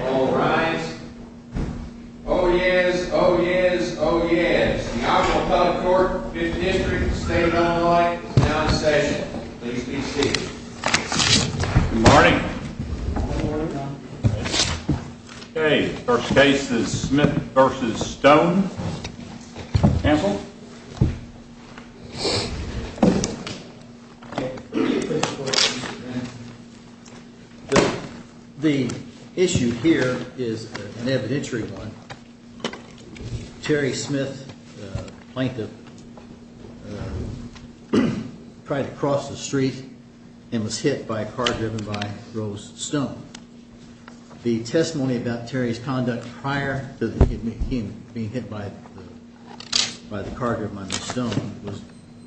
All rise. Oh yes, oh yes, oh yes. The Iowa Public Court, 5th District, the State of Illinois is now in session. Please be seated. Good morning. First case is Smith v. Stone. Counsel? The issue here is an evidentiary one. Terry Smith, plaintiff, tried to cross the street and was hit by a car driven by Rose Stone. The testimony about Terry's conduct prior to him being hit by the car driven by Rose Stone was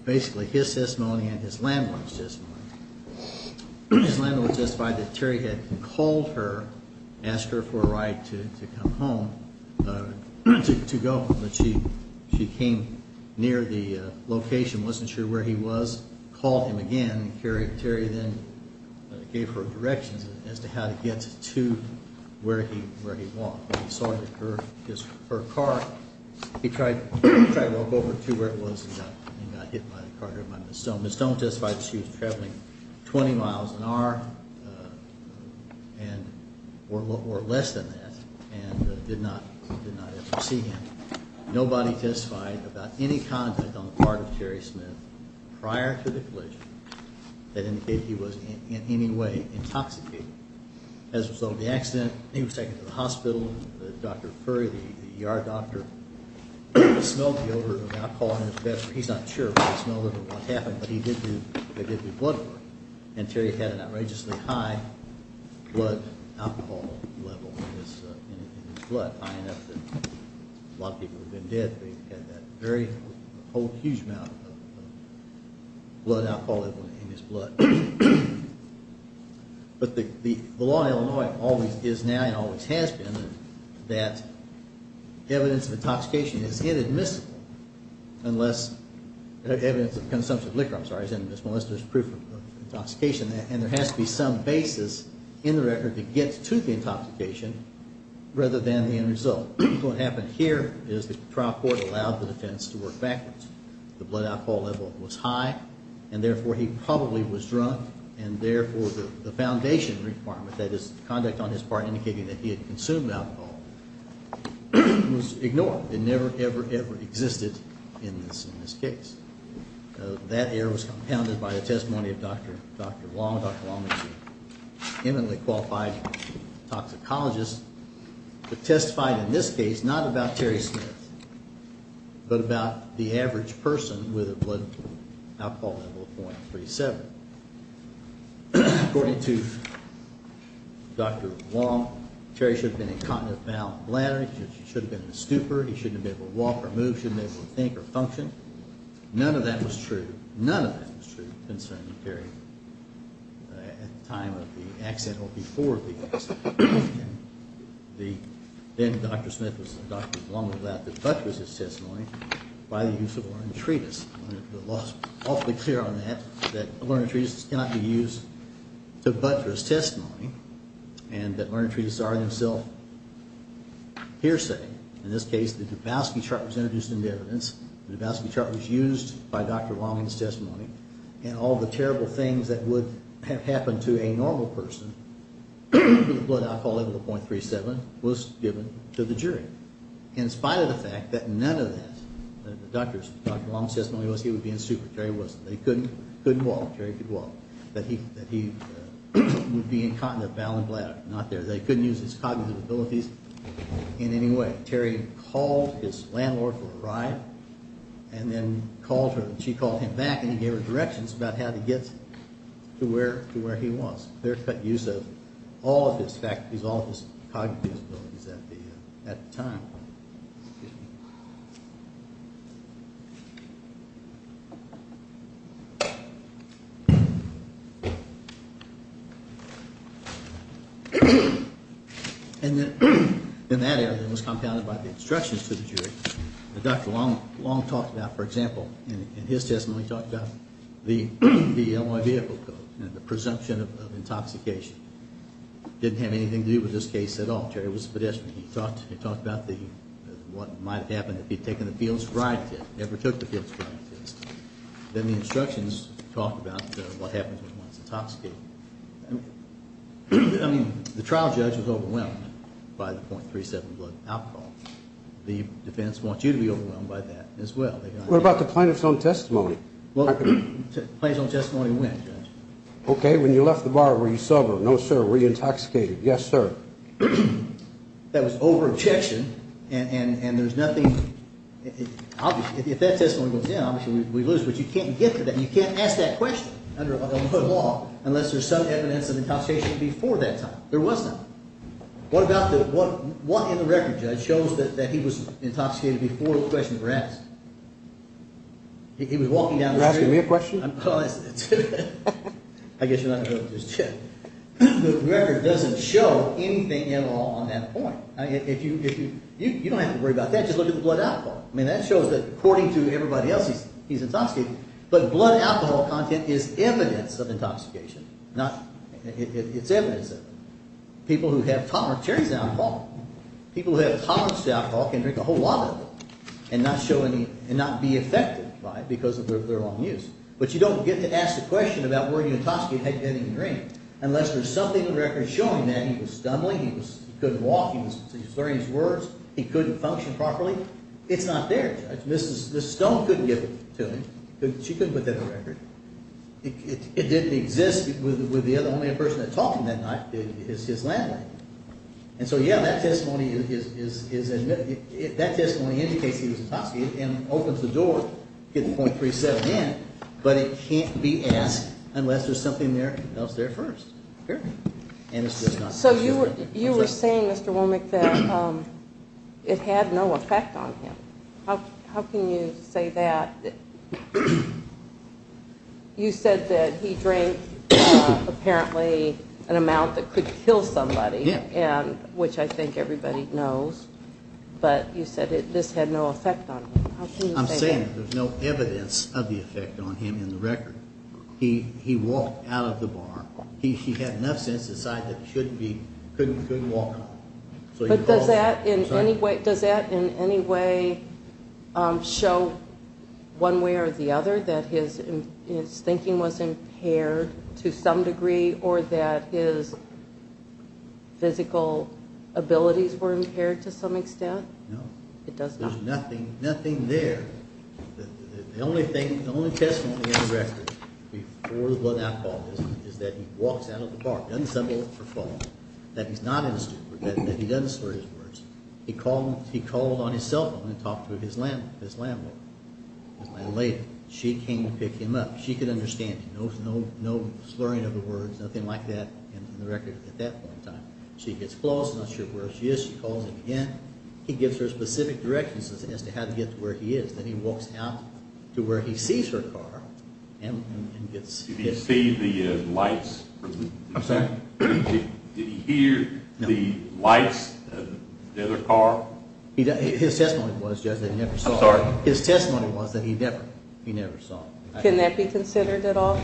basically his testimony and his landlord's testimony. His landlord testified that Terry had called her, asked her for a ride to come home, to go, but she came near the location, wasn't sure where he was, called him again, and Terry then gave her directions as to how to get to where he was. When he saw her car, he tried to walk over to where it was and got hit by the car driven by Rose Stone. Rose Stone testified that she was traveling 20 miles an hour or less than that and did not ever see him. Nobody testified about any contact on the part of Terry Smith prior to the collision that indicated he was in any way intoxicated. As a result of the accident, he was taken to the hospital. Dr. Curry, the ER doctor, smelled the odor of alcohol in his bed. He's not sure if he smelled it or what happened, but he did do blood work and Terry had an outrageously high blood alcohol level in his blood. But the law in Illinois always is now and always has been that evidence of intoxication is inadmissible unless, evidence of consumption of liquor, I'm sorry, is inadmissible unless there's proof of intoxication and there has to be some basis in the record to get to the intoxication rather than the inadmissible. As a result, what happened here is the trial court allowed the defense to work backwards. The blood alcohol level was high and therefore he probably was drunk and therefore the foundation requirement, that is conduct on his part indicating that he had consumed alcohol, was ignored. It never, ever, ever existed in this case. That error was compounded by the testimony of Dr. Wong. Dr. Wong was an eminently qualified toxicologist who testified in this case not about Terry Smith but about the average person with a blood alcohol level of 0.37. But according to Dr. Wong, Terry should have been incontinent bowel and bladder. He should have been a stupor. He shouldn't have been able to walk or move. He shouldn't have been able to think or function. None of that was true. None of that was true concerning Terry at the time of the accident or before the accident. Then Dr. Smith was, Dr. Wong was allowed to buttress his testimony by the use of a learned treatise. The law is awfully clear on that, that learned treatises cannot be used to buttress testimony and that learned treatises are in themselves hearsay. In this case the Dabowski chart was introduced into evidence. The Dabowski chart was used by Dr. Wong's testimony and all the terrible things that would have happened to a normal person with a blood alcohol level of 0.37 was given to the jury in spite of the fact that none of that, Dr. Wong's testimony was he would be in stupor. Terry wasn't. They couldn't walk. Terry could walk. That he would be incontinent bowel and bladder. Not there. They couldn't use his cognitive abilities in any way. Terry called his landlord for a ride and then called her and she called him back and gave her directions about how to get to where he was. Clear cut use of all of his cognitive abilities at the time. And then in that area it was compounded by the instructions to the jury. Dr. Wong talked about, for example, in his testimony he talked about the L.Y. vehicle code and the presumption of intoxication. Didn't have anything to do with this case at all. Terry was a pedestrian. He talked about what might have happened if he had taken the field's ride to it. Never took the field's ride to it. Then the instructions talked about what happens when one's intoxicated. I mean, the trial judge was overwhelmed by the 0.37 blood alcohol. The defense wants you to be overwhelmed by that as well. What about the plaintiff's own testimony? Plaintiff's own testimony went, Judge. Okay, when you left the bar were you sober? No, sir. Were you intoxicated? Yes, sir. That was over objection and there's nothing. Obviously, if that testimony goes down, obviously we lose. But you can't get to that. You can't ask that question under a law unless there's some evidence of intoxication before that time. There was none. What in the record, Judge, shows that he was intoxicated before the question was asked? He was walking down the street. You're asking me a question? I guess you're not going to just check. The record doesn't show anything at all on that point. You don't have to worry about that. Just look at the blood alcohol. I mean, that shows that according to everybody else he's intoxicated. But blood alcohol content is evidence of intoxication. It's evidence of it. People who have tolerance to alcohol can drink a whole lot of it and not be affected by it because of their long use. But you don't get to ask the question about were you intoxicated had you had any drink unless there's something in the record showing that he was stumbling, he couldn't walk, he was slurring his words, he couldn't function properly. It's not there, Judge. Mrs. Stone couldn't give it to him. She couldn't put that in the record. It didn't exist with the only other person that talked to him that night is his landlady. And so, yeah, that testimony indicates he was intoxicated and opens the door to get the .37 in. But it can't be asked unless there's something else there first. So you were saying, Mr. Womack, that it had no effect on him. How can you say that? You said that he drank apparently an amount that could kill somebody, which I think everybody knows. But you said this had no effect on him. I'm saying there's no evidence of the effect on him in the record. He walked out of the bar. He had enough sense to decide that he couldn't walk. But does that in any way show one way or the other that his thinking was impaired to some degree or that his physical abilities were impaired to some extent? No. There's nothing there. The only testimony in the record before the blood alcohol test is that he walks out of the bar, doesn't stumble or fall, that he's not in a stupor, that he doesn't slur his words. He called on his cell phone and talked to his landlady. She came to pick him up. She could understand him. No slurring of the words, nothing like that in the record at that point in time. She gets close, not sure where she is. She calls him again. He gives her specific directions as to how to get to where he is. Then he walks out to where he sees her car and gets hit. Did he see the lights? Did he hear the lights of the other car? His testimony was that he never saw it. Can that be considered at all?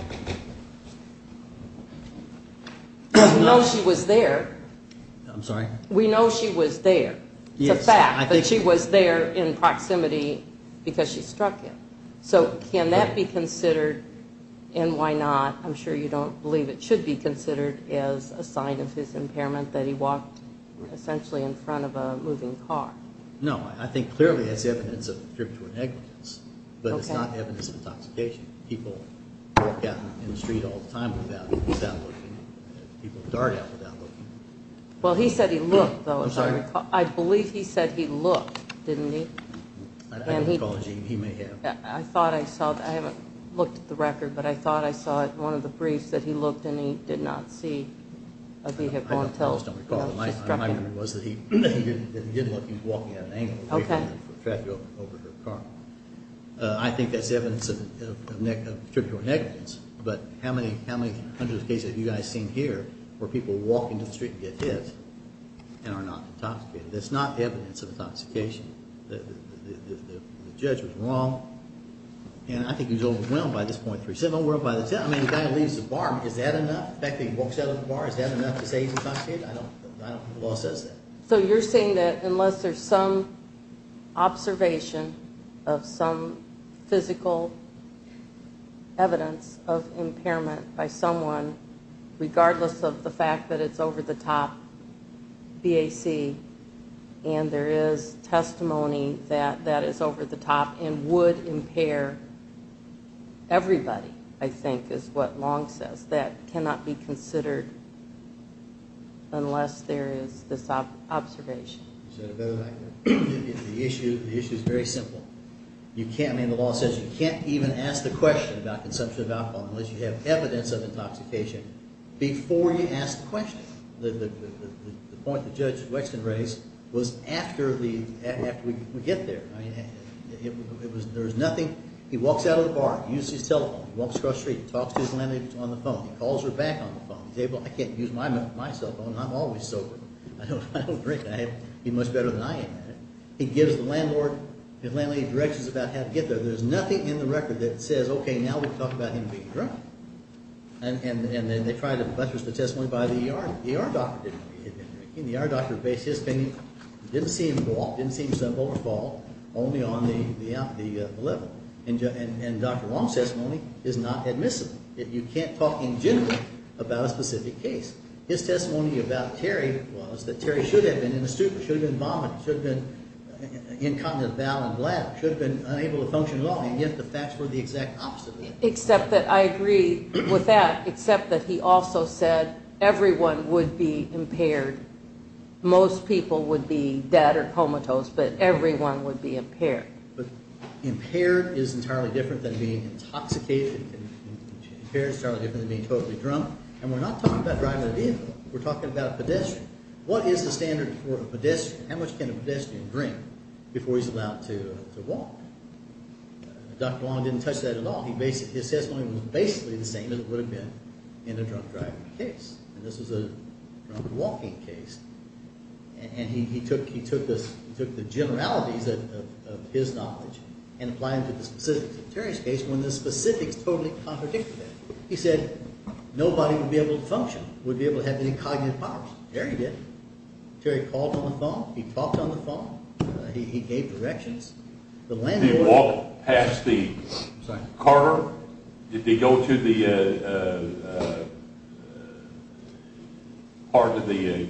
We know she was there. We know she was there. It's a fact that she was there in proximity because she struck him. So can that be considered and why not? I'm sure you don't believe it should be considered as a sign of his impairment that he walked essentially in front of a moving car. No, I think clearly that's evidence of a trip to a negligence, but it's not evidence of intoxication. People walk out in the street all the time without looking. People dart out without looking. Well, he said he looked though. I believe he said he looked, didn't he? I haven't looked at the record, but I thought I saw it in one of the briefs that he looked and he did not see. I think that's evidence of trip to a negligence, but how many hundreds of cases have you guys seen here where people walk into the street and get hit and are not intoxicated? That's not evidence of intoxication. The judge was wrong and I think he was overwhelmed by this point. I mean, the guy leaves the bar. Is that enough? The fact that he walks out of the bar, is that enough to say he's intoxicated? I don't think the law says that. So you're saying that unless there's some observation of some physical evidence of impairment by someone, regardless of the fact that it's over the top BAC, and there is testimony that that is over the top and would impair everybody, I think is what Long says, that cannot be considered unless there is this observation. The issue is very simple. The law says you can't even ask the question about consumption of alcohol unless you have evidence of intoxication. Before you ask the question. The point that Judge Wexton raised was after we get there. He walks out of the bar, uses his telephone, walks across the street, talks to his landlady on the phone. He calls her back on the phone. He says, well, I can't use my cell phone. I'm always sober. I don't drink. He's much better than I am at it. He gives the landlady directions about how to get there. There's nothing in the record that says, okay, now we can talk about him being drunk. And then they try to buttress the testimony by the ER doctor. The ER doctor based his opinion. It didn't seem simple or false, only on the level. And Dr. Long's testimony is not admissible. You can't talk in general about a specific case. His testimony about Terry was that Terry should have been in a stupor, should have been vomiting, should have been incontinent bowel and bladder, should have been unable to function at all. And yet the facts were the exact opposite. Except that I agree with that, except that he also said everyone would be impaired. Most people would be dead or comatose, but everyone would be impaired. But impaired is entirely different than being intoxicated. Impaired is entirely different than being totally drunk. And we're not talking about driving a vehicle. We're talking about a pedestrian. What is the standard for a pedestrian? How much can a pedestrian drink before he's allowed to walk? Dr. Long didn't touch that at all. His testimony was basically the same as it would have been in a drunk driving case. And this was a drunk walking case. And he took the generalities of his knowledge and applied them to the specifics of Terry's case when the specifics totally contradicted that. He said nobody would be able to function, would be able to have any cognitive powers. Terry did. Terry called on the phone. He talked on the phone. He gave directions. Did he walk past the car? Did he go to the part of the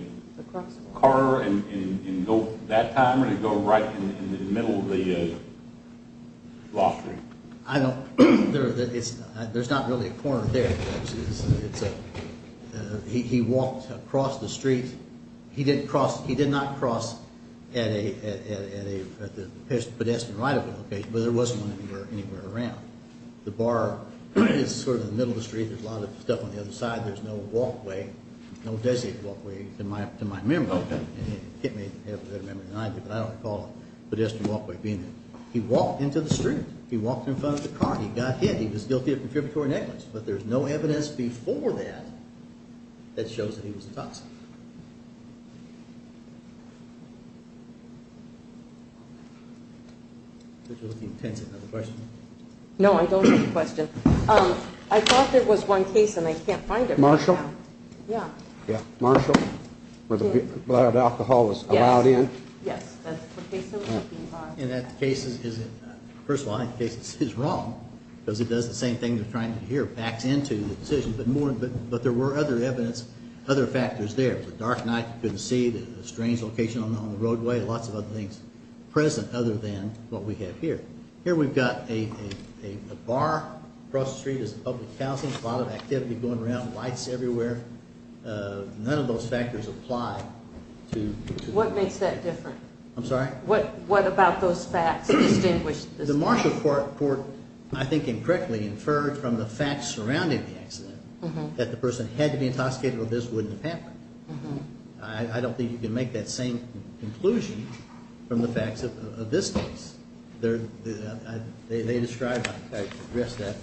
car and go that time or did he go right in the middle of the lottery? There's not really a corner there. He walked across the street. He did not cross at a pedestrian right of way location, but there was one anywhere around. The bar is sort of in the middle of the street. There's a lot of stuff on the other side. There's no walkway, no designated walkway to my memory. I don't recall a pedestrian walkway being there. He walked into the street. He walked in front of the car. He got hit. He was guilty of contributory negligence. But there's no evidence before that that shows that he was a toxic. No, I don't have a question. I thought there was one case and I can't find it right now. Marshall, where the blood alcohol was allowed in? Yes, that's the case that we're looking for. And that case is, first of all, I think the case is wrong because it does the same thing you're trying to hear. It backs into the decision, but there were other evidence, other factors there. It was a dark night. You couldn't see. There was a strange location on the roadway. Lots of other things present other than what we have here. Here we've got a bar across the street. There's a lot of activity going around, lights everywhere. None of those factors apply. What makes that different? I'm sorry? What about those facts? The Marshall court, I think incorrectly, inferred from the facts surrounding the accident that the person had to be intoxicated or this wouldn't have happened. I don't think you can make that same conclusion from the facts of this case. They describe how you address that.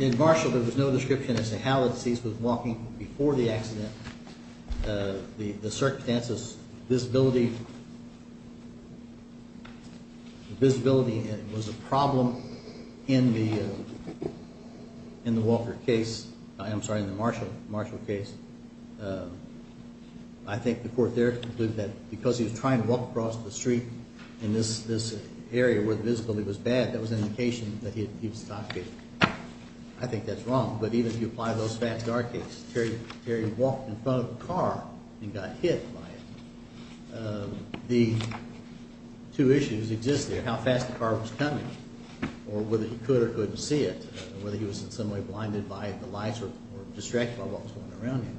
In Marshall, there was no description as to how the deceased was walking before the accident. The circumstances, visibility, visibility was a problem in the Walker case. I'm sorry, in the Marshall case. I think the court there concluded that because he was trying to walk across the street in this area where the visibility was bad, that was an indication that he was intoxicated. I think that's wrong, but even if you apply those facts to our case, Terry walked in front of a car and got hit by it. The two issues exist there, how fast the car was coming or whether he could or couldn't see it, whether he was in some way blinded by the lights or distracted by what was going on around him.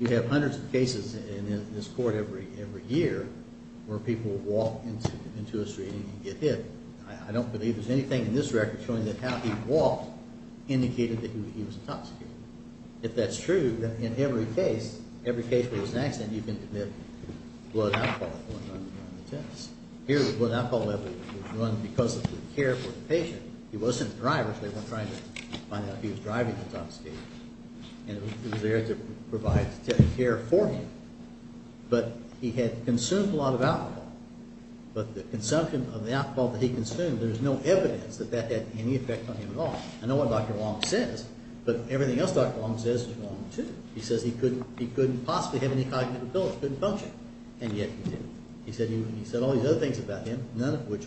You have hundreds of cases in this court every year where people walk into a street and get hit. I don't believe there's anything in this record showing that how he walked indicated that he was intoxicated. If that's true, then in every case, every case where there's an accident, you can commit blood alcohol. Here, the blood alcohol level was run because of the care for the patient. He wasn't a driver, so they weren't trying to find out if he was driving intoxicated, and it was there to provide care for him. But he had consumed a lot of alcohol, but the consumption of the alcohol that he consumed, there's no evidence that that had any effect on him at all. I know what Dr. Long says, but everything else Dr. Long says is wrong, too. He says he couldn't possibly have any cognitive abilities, couldn't function, and yet he did. He said all these other things about him, none of which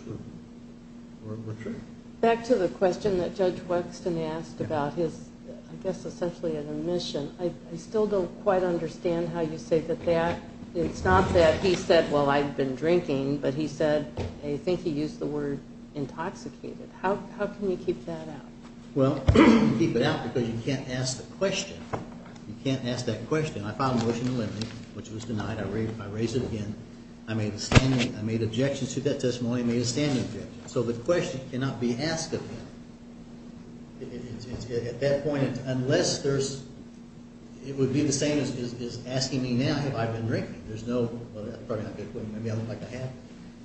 were true. Back to the question that Judge Wexton asked about his, I guess essentially an admission, I still don't quite understand how you say that that, it's not that he said, well, I've been drinking, but he said I think he used the word intoxicated. How can you keep that out? Well, you can't keep it out because you can't ask the question. You can't ask that question. I filed a motion to limit it, which was denied. I raised it again. I made an objection to that testimony and made a standing objection. So the question cannot be asked of him. At that point, unless there's – it would be the same as asking me now if I've been drinking. There's no – well, that's probably not a good point. Maybe I look like I have.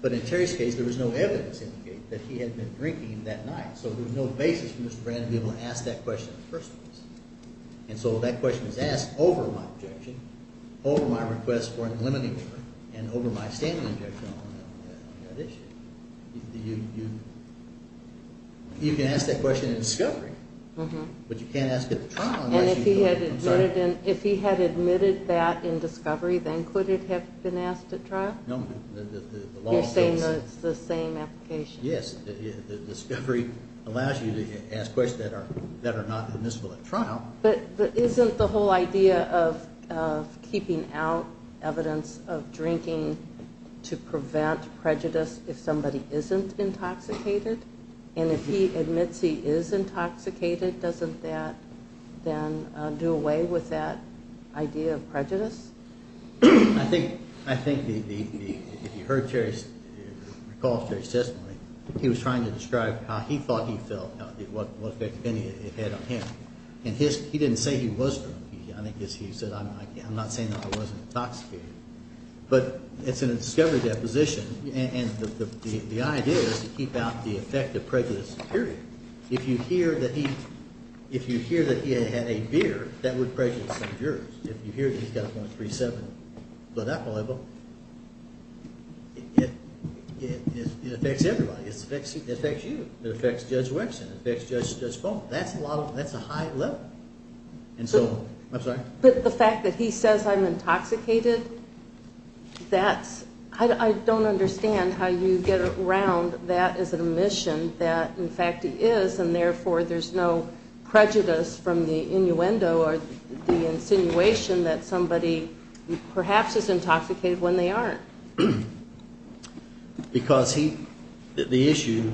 But in Terry's case, there was no evidence to indicate that he had been drinking that night. So there's no basis for Mr. Brand to be able to ask that question in the first place. And so that question is asked over my objection, over my request for an eliminating order, and over my standing objection on that issue. You can ask that question in discovery, but you can't ask it at trial. And if he had admitted that in discovery, then could it have been asked at trial? No. You're saying it's the same application. Yes. Discovery allows you to ask questions that are not admissible at trial. But isn't the whole idea of keeping out evidence of drinking to prevent prejudice if somebody isn't intoxicated? And if he admits he is intoxicated, doesn't that then do away with that idea of prejudice? I think the – if you heard Terry's – recall Terry's testimony, he was trying to describe how he thought he felt, what effect it had on him. And he didn't say he was drunk. I think he said, I'm not saying that I wasn't intoxicated. But it's in a discovery deposition, and the idea is to keep out the effect of prejudice, period. If you hear that he – if you hear that he had a beer, that would prejudice some jurors. If you hear that he's got a .37 blood alcohol level, it affects everybody. It affects you. It affects Judge Wexin. It affects Judge Cohn. That's a lot of – that's a high level. And so – I'm sorry. But the fact that he says, I'm intoxicated, that's – I don't understand how you get around that as an admission that, in fact, he is, and therefore there's no prejudice from the innuendo or the insinuation that somebody perhaps is intoxicated when they aren't. Because he – the issue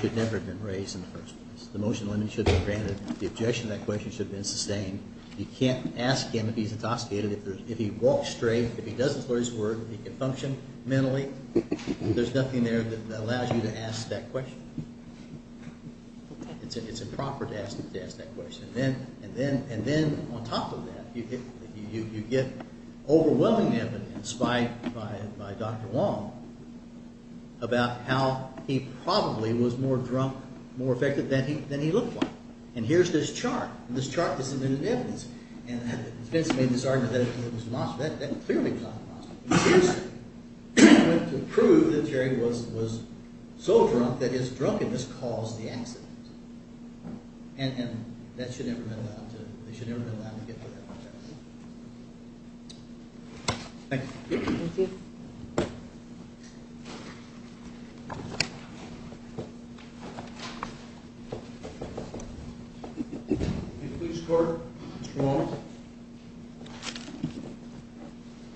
should never have been raised in the first place. The motion should have been granted. The objection to that question should have been sustained. You can't ask him if he's intoxicated. If he walks straight, if he doesn't swear his word, if he can function mentally, there's nothing there that allows you to ask that question. It's improper to ask that question. And then on top of that, you get overwhelming evidence, in spite by Dr. Wong, about how he probably was more drunk, more effective than he looked like. And here's this chart. This chart is submitted in evidence. And Vince made this argument that it was a monster. That clearly was not a monster. This went to prove that Jerry was so drunk that his drunkenness caused the accident. And that should never have been allowed to – they should never have been allowed to get to that point. Thank you. Thank you. Please, Court. Mr. Wong.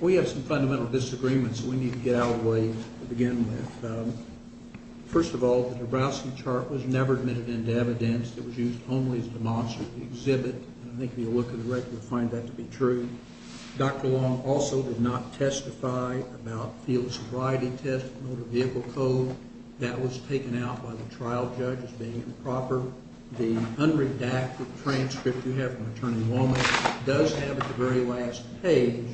We have some fundamental disagreements that we need to get out of the way to begin with. First of all, the Dabrowski chart was never admitted into evidence. It was used only as a demonstrative exhibit. And I think if you look at the record, you'll find that to be true. Dr. Wong also did not testify about Field sobriety test and motor vehicle code. That was taken out by the trial judge as being improper. The unredacted transcript you have from Attorney Wong does have at the very last page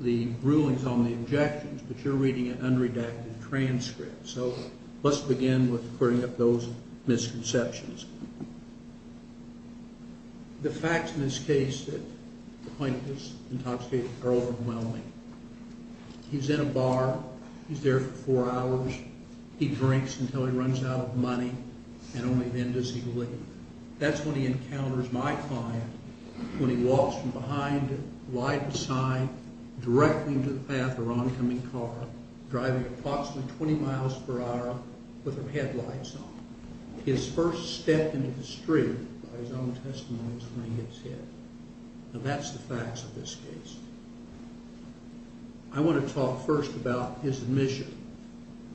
the rulings on the objections. But you're reading an unredacted transcript. So let's begin with putting up those misconceptions. The facts in this case that the plaintiff is intoxicated are overwhelming. He's in a bar. He's there for four hours. He drinks until he runs out of money. And only then does he leave. That's when he encounters my client when he walks from behind, lied beside, directly into the path of her oncoming car, driving approximately 20 miles per hour with her headlights on. His first step into the street, by his own testimony, is when he gets hit. And that's the facts of this case. I want to talk first about his admission.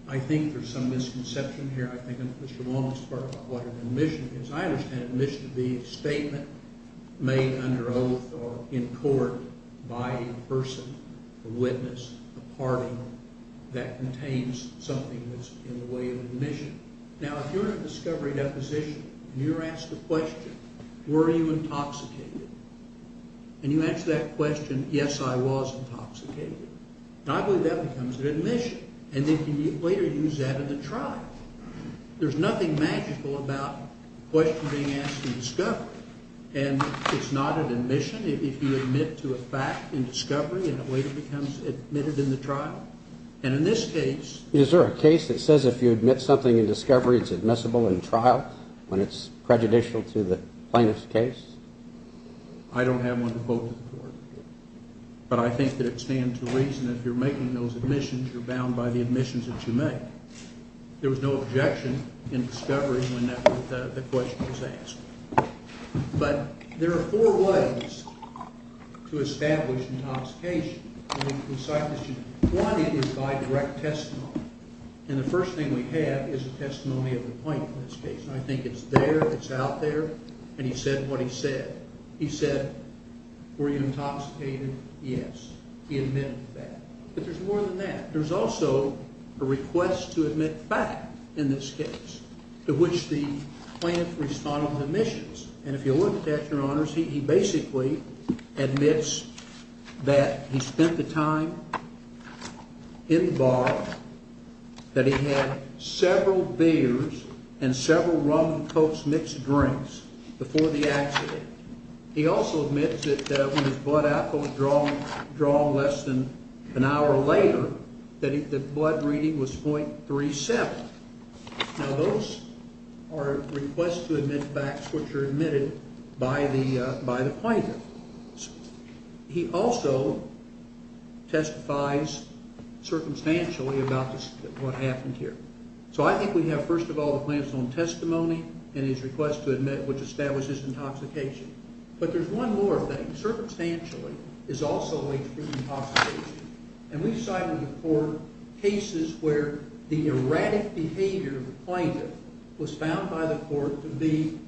I think there's some misconception here. I think Mr. Wong is part of what an admission is. I understand admission to be a statement made under oath or in court by a person, a witness, a party, that contains something that's in the way of admission. Now, if you're in a discovery deposition and you're asked the question, were you intoxicated? And you answer that question, yes, I was intoxicated. And I believe that becomes an admission. And then you can later use that in the trial. There's nothing magical about a question being asked in discovery. And it's not an admission if you admit to a fact in discovery, and it later becomes admitted in the trial. And in this case— Is there a case that says if you admit something in discovery, it's admissible in trial, when it's prejudicial to the plaintiff's case? I don't have one to quote to the court. But I think that it stands to reason that if you're making those admissions, you're bound by the admissions that you make. There was no objection in discovery when the question was asked. But there are four ways to establish intoxication. One is by direct testimony. And the first thing we have is a testimony of the plaintiff in this case. And I think it's there, it's out there. And he said what he said. He said, were you intoxicated? Yes. He admitted that. But there's more than that. There's also a request to admit fact in this case, to which the plaintiff responded with admissions. And if you look at it, Your Honors, he basically admits that he spent the time in the bar, that he had several beers and several rum and Cokes mixed drinks before the accident. He also admits that when his blood alcohol was drawn less than an hour later, that the blood reading was .37. Now those are requests to admit facts which are admitted by the plaintiff. He also testifies circumstantially about what happened here. So I think we have, first of all, the plaintiff's own testimony and his request to admit, which establishes intoxication. But there's one more thing. Circumstantially is also a late proof of intoxication. And we've cited before cases where the erratic behavior of the plaintiff was found by the court to be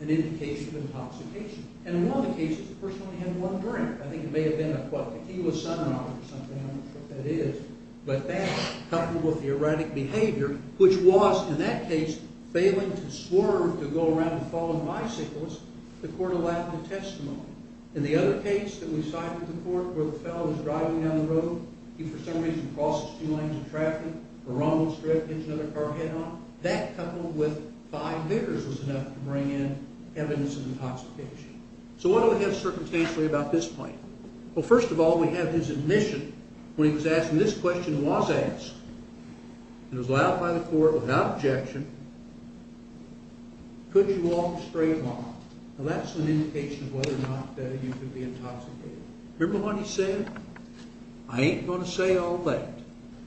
an indication of intoxication. And in one of the cases, the person only had one drink. I think it may have been a tequila sonar or something. I don't know what that is. But that coupled with the erratic behavior, which was, in that case, failing to swerve to go around the fallen bicycles, the court allowed the testimony. In the other case that we cited before where the fellow was driving down the road, he, for some reason, crosses two lanes of traffic, or on one strip, hits another car head-on, that coupled with five beers was enough to bring in evidence of intoxication. So what do we have circumstantially about this plaintiff? Well, first of all, we have his admission. When he was asked, and this question was asked, and it was allowed by the court without objection, could you walk straight along? Now that's an indication of whether or not you could be intoxicated. Remember what he said? I ain't going to say all that.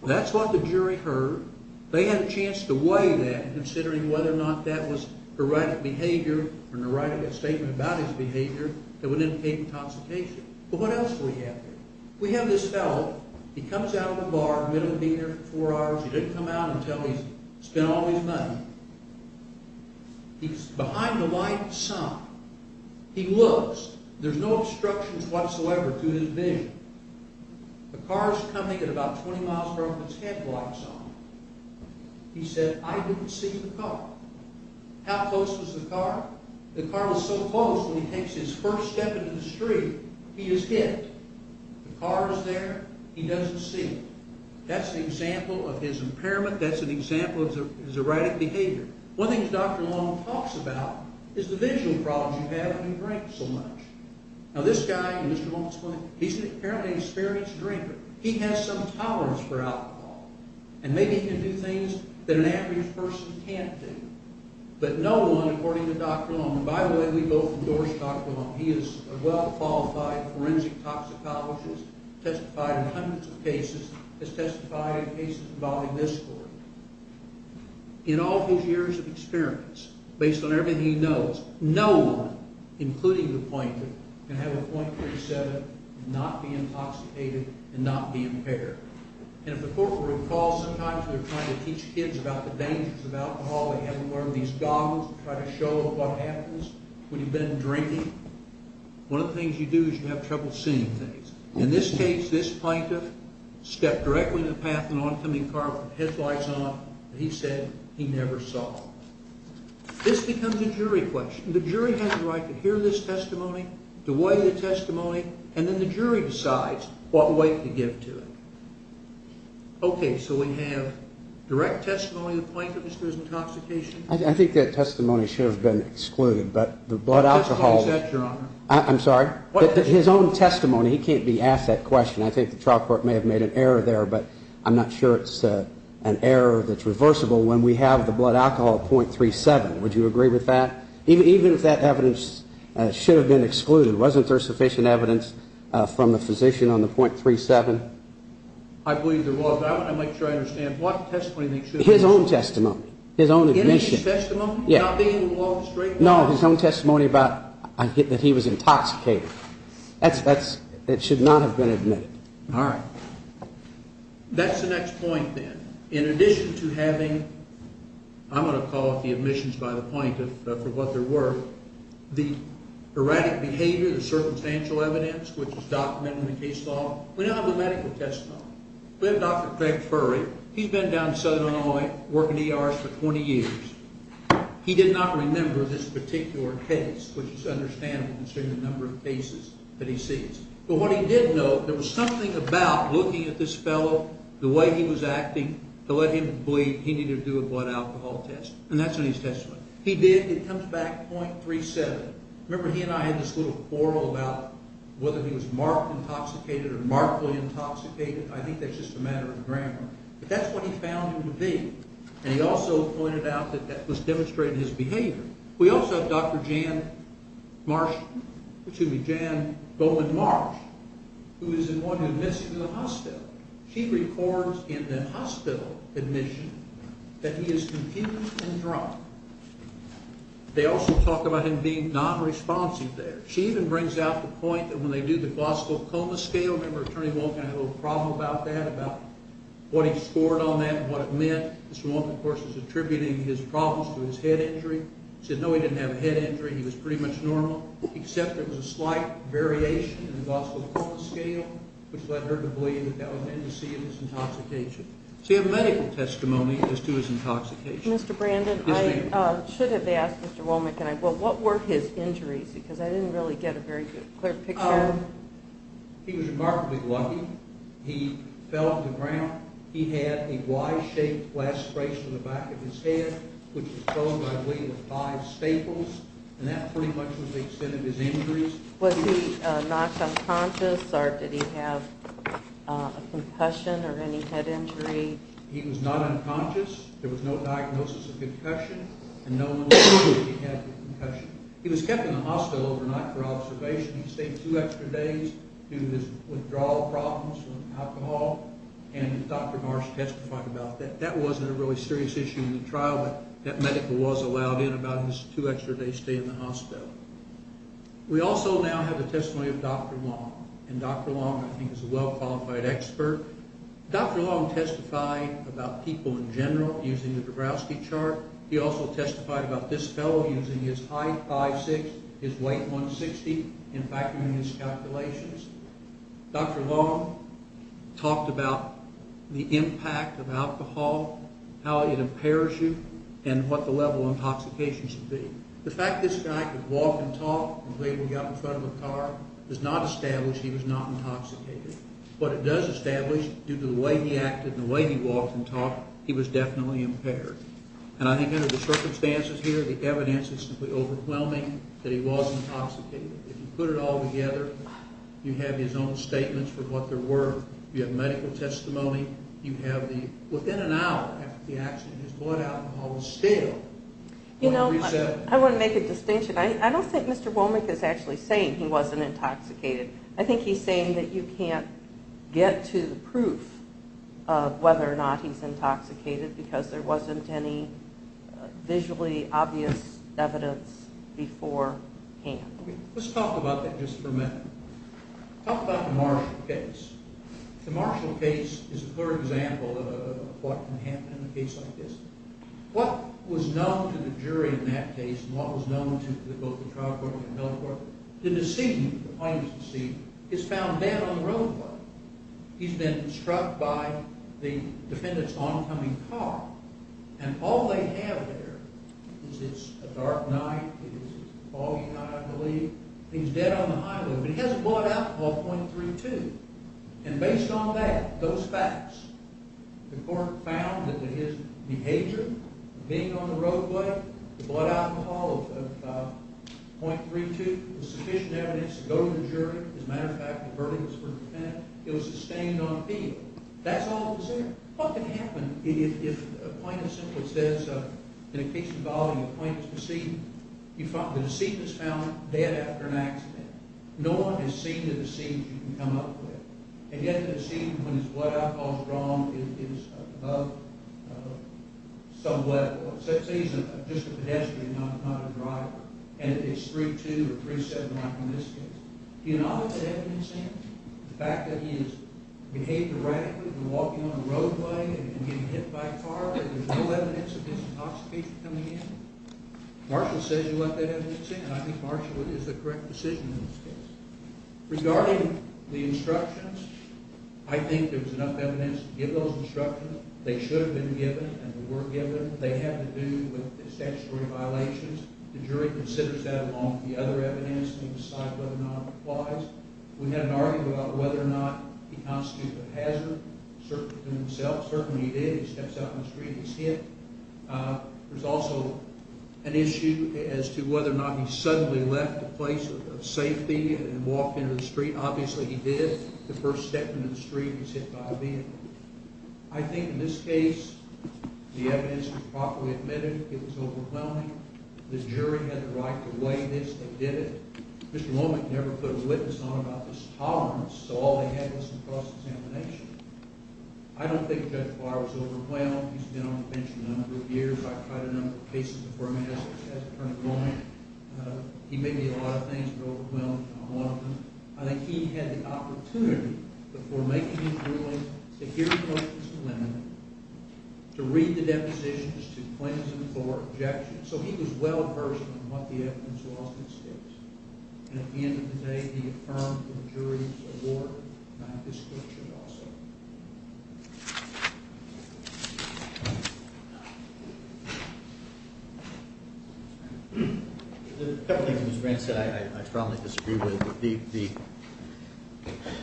That's what the jury heard. They had a chance to weigh that, considering whether or not that was erratic behavior or an erratic statement about his behavior that would indicate intoxication. But what else do we have here? We have this fellow. He comes out of the bar, middle of being there for four hours. He didn't come out until he's spent all his money. He's behind the white sign. He looks. There's no obstructions whatsoever to his vision. The car's coming at about 20 miles per hour with its head blocks on. He said, I didn't see the car. How close was the car? The car was so close, when he takes his first step into the street, he is hit. The car is there. He doesn't see it. That's an example of his impairment. That's an example of his erratic behavior. One of the things Dr. Long talks about is the visual problems you have when you drink so much. Now this guy, Mr. Long's friend, he's apparently an experienced drinker. He has some tolerance for alcohol and maybe can do things that an average person can't do. But no one, according to Dr. Long, and by the way, we both endorse Dr. Long. He is a well-qualified forensic toxicologist, testified in hundreds of cases, has testified in cases involving this sort. In all his years of experience, based on everything he knows, no one, including the pointer, can have a .37 and not be intoxicated and not be impaired. And if the court would recall, sometimes they're trying to teach kids about the dangers of alcohol. They have them wear these goggles to try to show them what happens when you've been drinking. One of the things you do is you have trouble seeing things. In this case, this plaintiff stepped directly in the path of an oncoming car with headlights on. He said he never saw. This becomes a jury question. The jury has the right to hear this testimony, to weigh the testimony, and then the jury decides what weight to give to it. Okay, so we have direct testimony of the plaintiff as to his intoxication. I think that testimony should have been excluded, but the blood alcohol... What testimony is that, Your Honor? I'm sorry? His own testimony. He can't be asked that question. I think the trial court may have made an error there, but I'm not sure it's an error that's reversible when we have the blood alcohol at .37. Would you agree with that? Even if that evidence should have been excluded, wasn't there sufficient evidence from the physician on the .37? I believe there was. I'd like to try to understand. What testimony do you think should have been excluded? His own testimony. His own admission. In his testimony? Yeah. Not being in the law of the street? No, his own testimony that he was intoxicated. That should not have been admitted. All right. That's the next point, then. In addition to having, I'm going to call it the admissions by the plaintiff, for what they were, the erratic behavior, the circumstantial evidence, which is documented in the case law, we now have the medical testimony. We have Dr. Craig Furry. He's been down in southern Illinois working ERs for 20 years. He did not remember this particular case, which is understandable considering the number of cases that he sees. But what he did know, there was something about looking at this fellow, the way he was acting, to let him believe he needed to do a blood alcohol test. And that's in his testimony. He did. It comes back .37. Remember, he and I had this little quarrel about I think that's just a matter of grammar. But that's what he found him to be. And he also pointed out that that was demonstrating his behavior. We also have Dr. Jan Marsh, excuse me, Jan Goldman Marsh, who is the one who admits him to the hospital. She records in the hospital admission that he is confused and drunk. They also talk about him being non-responsive there. She even brings out the point that when they do the glossal coma scale, I remember Attorney Wolk had a little problem about that, about what he scored on that and what it meant. Mr. Wolk, of course, is attributing his problems to his head injury. He said, no, he didn't have a head injury. He was pretty much normal, except there was a slight variation in the glossal coma scale, which led her to believe that that was an indice of his intoxication. So you have medical testimony as to his intoxication. Mr. Brandon, I should have asked Mr. Wolk, what were his injuries? Because I didn't really get a very clear picture. He was remarkably lucky. He fell to the ground. He had a Y-shaped blast brace on the back of his head, which was thrown by way of five staples, and that pretty much was the extent of his injuries. Was he knocked unconscious, or did he have a concussion or any head injury? He was not unconscious. There was no diagnosis of concussion, and no one was sure that he had a concussion. He was kept in the hospital overnight for observation. He stayed two extra days due to his withdrawal problems from alcohol, and Dr. Marsh testified about that. That wasn't a really serious issue in the trial, but that medical was allowed in about his two extra days' stay in the hospital. We also now have the testimony of Dr. Long, and Dr. Long, I think, is a well-qualified expert. Dr. Long testified about people in general using the Grabowski chart. He also testified about this fellow using his height 5'6", his weight 160, and factoring in his calculations. Dr. Long talked about the impact of alcohol, how it impairs you, and what the level of intoxication should be. The fact this guy could walk and talk, the way he got in front of a car, does not establish he was not intoxicated. What it does establish, due to the way he acted and the way he walked and talked, he was definitely impaired. And I think under the circumstances here, the evidence is simply overwhelming that he was intoxicated. If you put it all together, you have his own statements for what they were. You have medical testimony. Within an hour after the accident, his blood alcohol was still on the reset. I want to make a distinction. I don't think Mr. Womack is actually saying he wasn't intoxicated. I think he's saying that you can't get to the proof of whether or not he's intoxicated because there wasn't any visually obvious evidence beforehand. Let's talk about that just for a minute. Talk about the Marshall case. The Marshall case is a clear example of what can happen in a case like this. What was known to the jury in that case and what was known to both the trial court and the military court, the deceit, the plaintiff's deceit, is found dead on the roadway. He's been struck by the defendant's oncoming car, and all they have there is it's a dark night. It is a foggy night, I believe. He's dead on the highway, but he has a blood alcohol of 0.32. Based on that, those facts, the court found that his behavior, being on the roadway, the blood alcohol of 0.32, was sufficient evidence to go to the jury. As a matter of fact, the verdict was for the defendant. It was sustained on appeal. That's all that was there. What can happen if a plaintiff simply says in a case involving a plaintiff's deceit, the deceit is found dead after an accident. No one has seen the deceit you can come up with, and yet the deceit when his blood alcohol is wrong is above some level. Say he's just a pedestrian, not a driver, and it's 0.32 or 0.37 like in this case. Do you know what that evidence is? The fact that he has behaved erratically when walking on the roadway and getting hit by a car, but there's no evidence of his intoxication coming in? Marshall says he wants that evidence in, and I think Marshall is the correct decision in this case. Regarding the instructions, I think there was enough evidence to give those instructions. They should have been given and were given. They had to do with the statutory violations. The jury considers that along with the other evidence to decide whether or not it applies. We had an argument about whether or not he constituted a hazard, certainly to himself. Certainly he did. He steps out on the street, he's hit. There's also an issue as to whether or not he suddenly left a place of safety and walked into the street. Obviously he did. The first step into the street, he's hit by a vehicle. I think in this case, the evidence was properly admitted. It was overwhelming. The jury had the right to weigh this. They did it. Mr. Womack never put a witness on about this tolerance, so all they had was some cross-examination. I don't think Judge Barr was overwhelmed. He's been on the bench a number of years. I've tried a number of cases before. I mean, as Attorney Womack, he may be a lot of things, but overwhelmed is not one of them. I think he had the opportunity, before making his ruling, to hear the questions from women, to read the depositions, to cleanse them for objection. So he was well-versed in what the evidence was in this case. And at the end of the day, he affirmed the jury's award, and I think this court should also. A couple of things Mr. Grant said I strongly disagree with.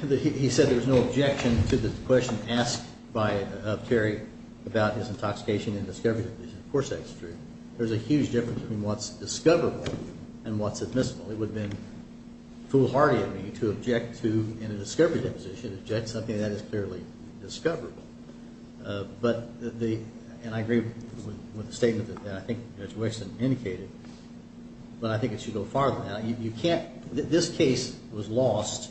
He said there was no objection to the question asked by Terry about his intoxication and discovery. Of course that's true. There's a huge difference between what's discoverable and what's admissible. It would have been foolhardy of me to object to, in a discovery deposition, object to something that is clearly discoverable. But the, and I agree with the statement that I think Judge Wixson indicated, but I think it should go farther than that. You can't, this case was lost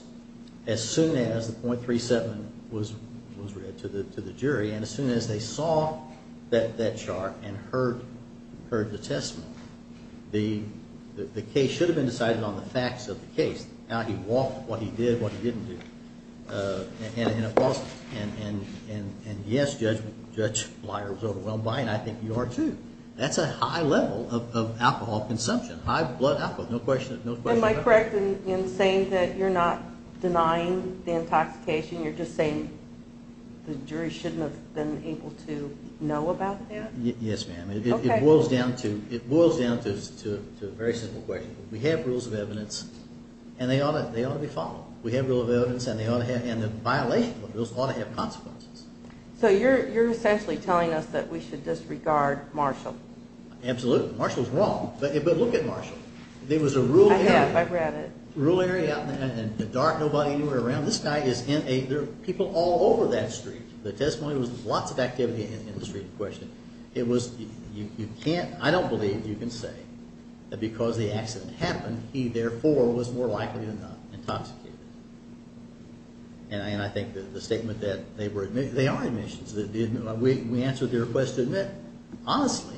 as soon as the .37 was read to the jury, and as soon as they saw that chart and heard the testimony, the case should have been decided on the facts of the case, how he walked, what he did, what he didn't do, and of course, and yes, Judge Leier was overwhelmed by it, and I think you are too. That's a high level of alcohol consumption, high blood alcohol, no question about that. Am I correct in saying that you're not denying the intoxication, you're just saying the jury shouldn't have been able to know about that? Yes, ma'am. Okay. It boils down to a very simple question. We have rules of evidence, and they ought to be followed. We have rules of evidence, and the violation of those ought to have consequences. So you're essentially telling us that we should disregard Marshall? Absolutely. Marshall's wrong, but look at Marshall. There was a rule area. I have, I've read it. A rule area out in the dark, nobody anywhere around. This guy is in a, there are people all over that street. The testimony was lots of activity in the street in question. It was, you can't, I don't believe you can say that because the accident happened, he therefore was more likely than not intoxicated. And I think the statement that they were, they are admissions. We answered their request to admit, honestly,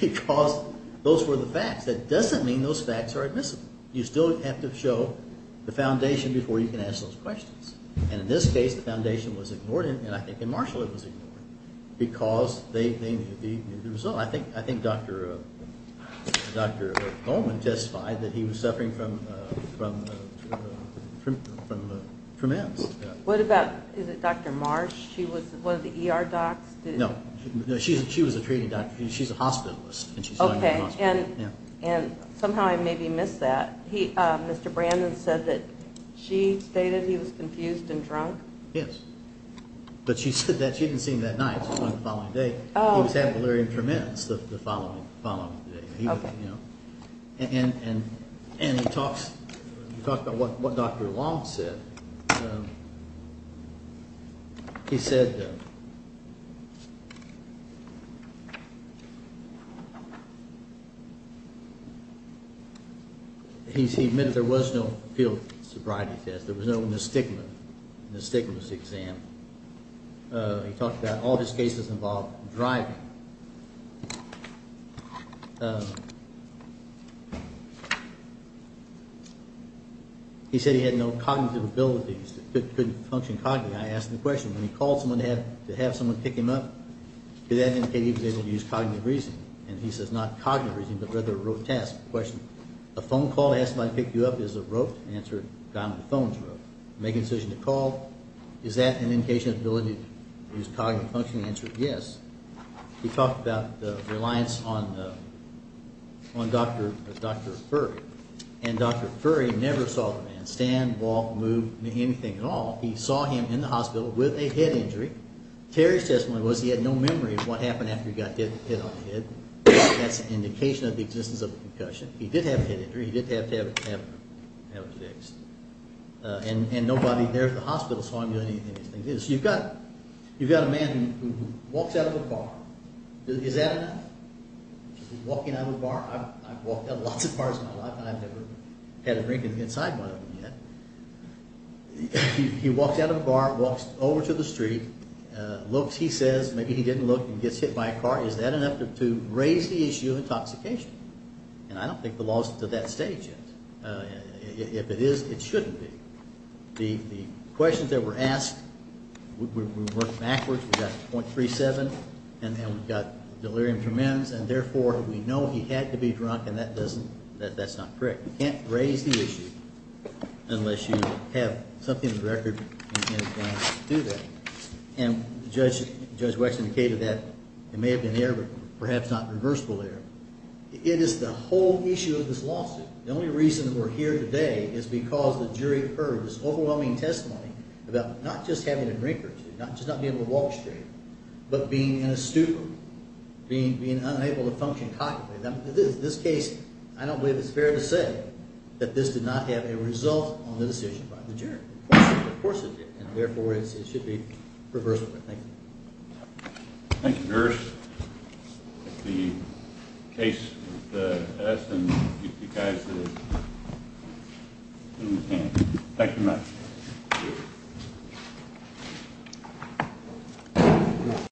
because those were the facts. That doesn't mean those facts are admissible. You still have to show the foundation before you can ask those questions. And in this case, the foundation was ignored, and I think in Marshall it was ignored, because they knew the result. I think Dr. Goldman testified that he was suffering from M's. What about, is it Dr. Marsh? She was one of the ER docs? No. She was a treating doctor. She's a hospitalist. Okay. And somehow I maybe missed that. Mr. Brandon said that she stated he was confused and drunk. Yes. But she said that she didn't see him that night. She saw him the following day. He was having malaria and tremendous the following day. Okay. And he talks, he talked about what Dr. Long said. He said he admitted there was no field sobriety test. There was no nystigma. Nystigma was the exam. He talked about all his cases involved driving. He said he had no cognitive abilities, couldn't function cognitively. I asked him a question. When he called someone to have someone pick him up, did that indicate he was able to use cognitive reasoning? And he says, not cognitive reasoning, but rather a rote test. I asked him a question. A phone call to ask somebody to pick you up is a rote? The answer, Donald, the phone is a rote. Making a decision to call, is that an indication of ability to use cognitive functioning? The answer is yes. He talked about the reliance on Dr. Furry. And Dr. Furry never saw the man stand, walk, move, anything at all. He saw him in the hospital with a head injury. Terry's testimony was he had no memory of what happened after he got hit on the head. That's an indication of the existence of a concussion. He did have a head injury. He did have to have it fixed. And nobody there at the hospital saw him doing anything. So you've got a man who walks out of a bar. Is that enough? Walking out of a bar? I've walked out of lots of bars in my life, and I've never had a drink inside one of them yet. He walks out of a bar, walks over to the street, looks. He says, maybe he didn't look, and gets hit by a car. Is that enough to raise the issue of intoxication? And I don't think the law is to that stage yet. If it is, it shouldn't be. The questions that were asked, we worked backwards. We got .37, and then we've got delirium tremens, and therefore we know he had to be drunk, and that's not correct. You can't raise the issue unless you have something in the record. And Judge Wexler indicated that it may have been air, but perhaps not reversible air. It is the whole issue of this lawsuit. The only reason that we're here today is because the jury heard this overwhelming testimony about not just having a drink or two, just not being able to walk straight, but being in a stupor, being unable to function properly. In this case, I don't believe it's fair to say that this did not have a result on the decision by the jury. Of course it did, and therefore it should be reversible. Thank you. Thank you, nurse. That's the case that's been asked, and we'll get you guys as soon as we can. Thank you, nurse. Thank you.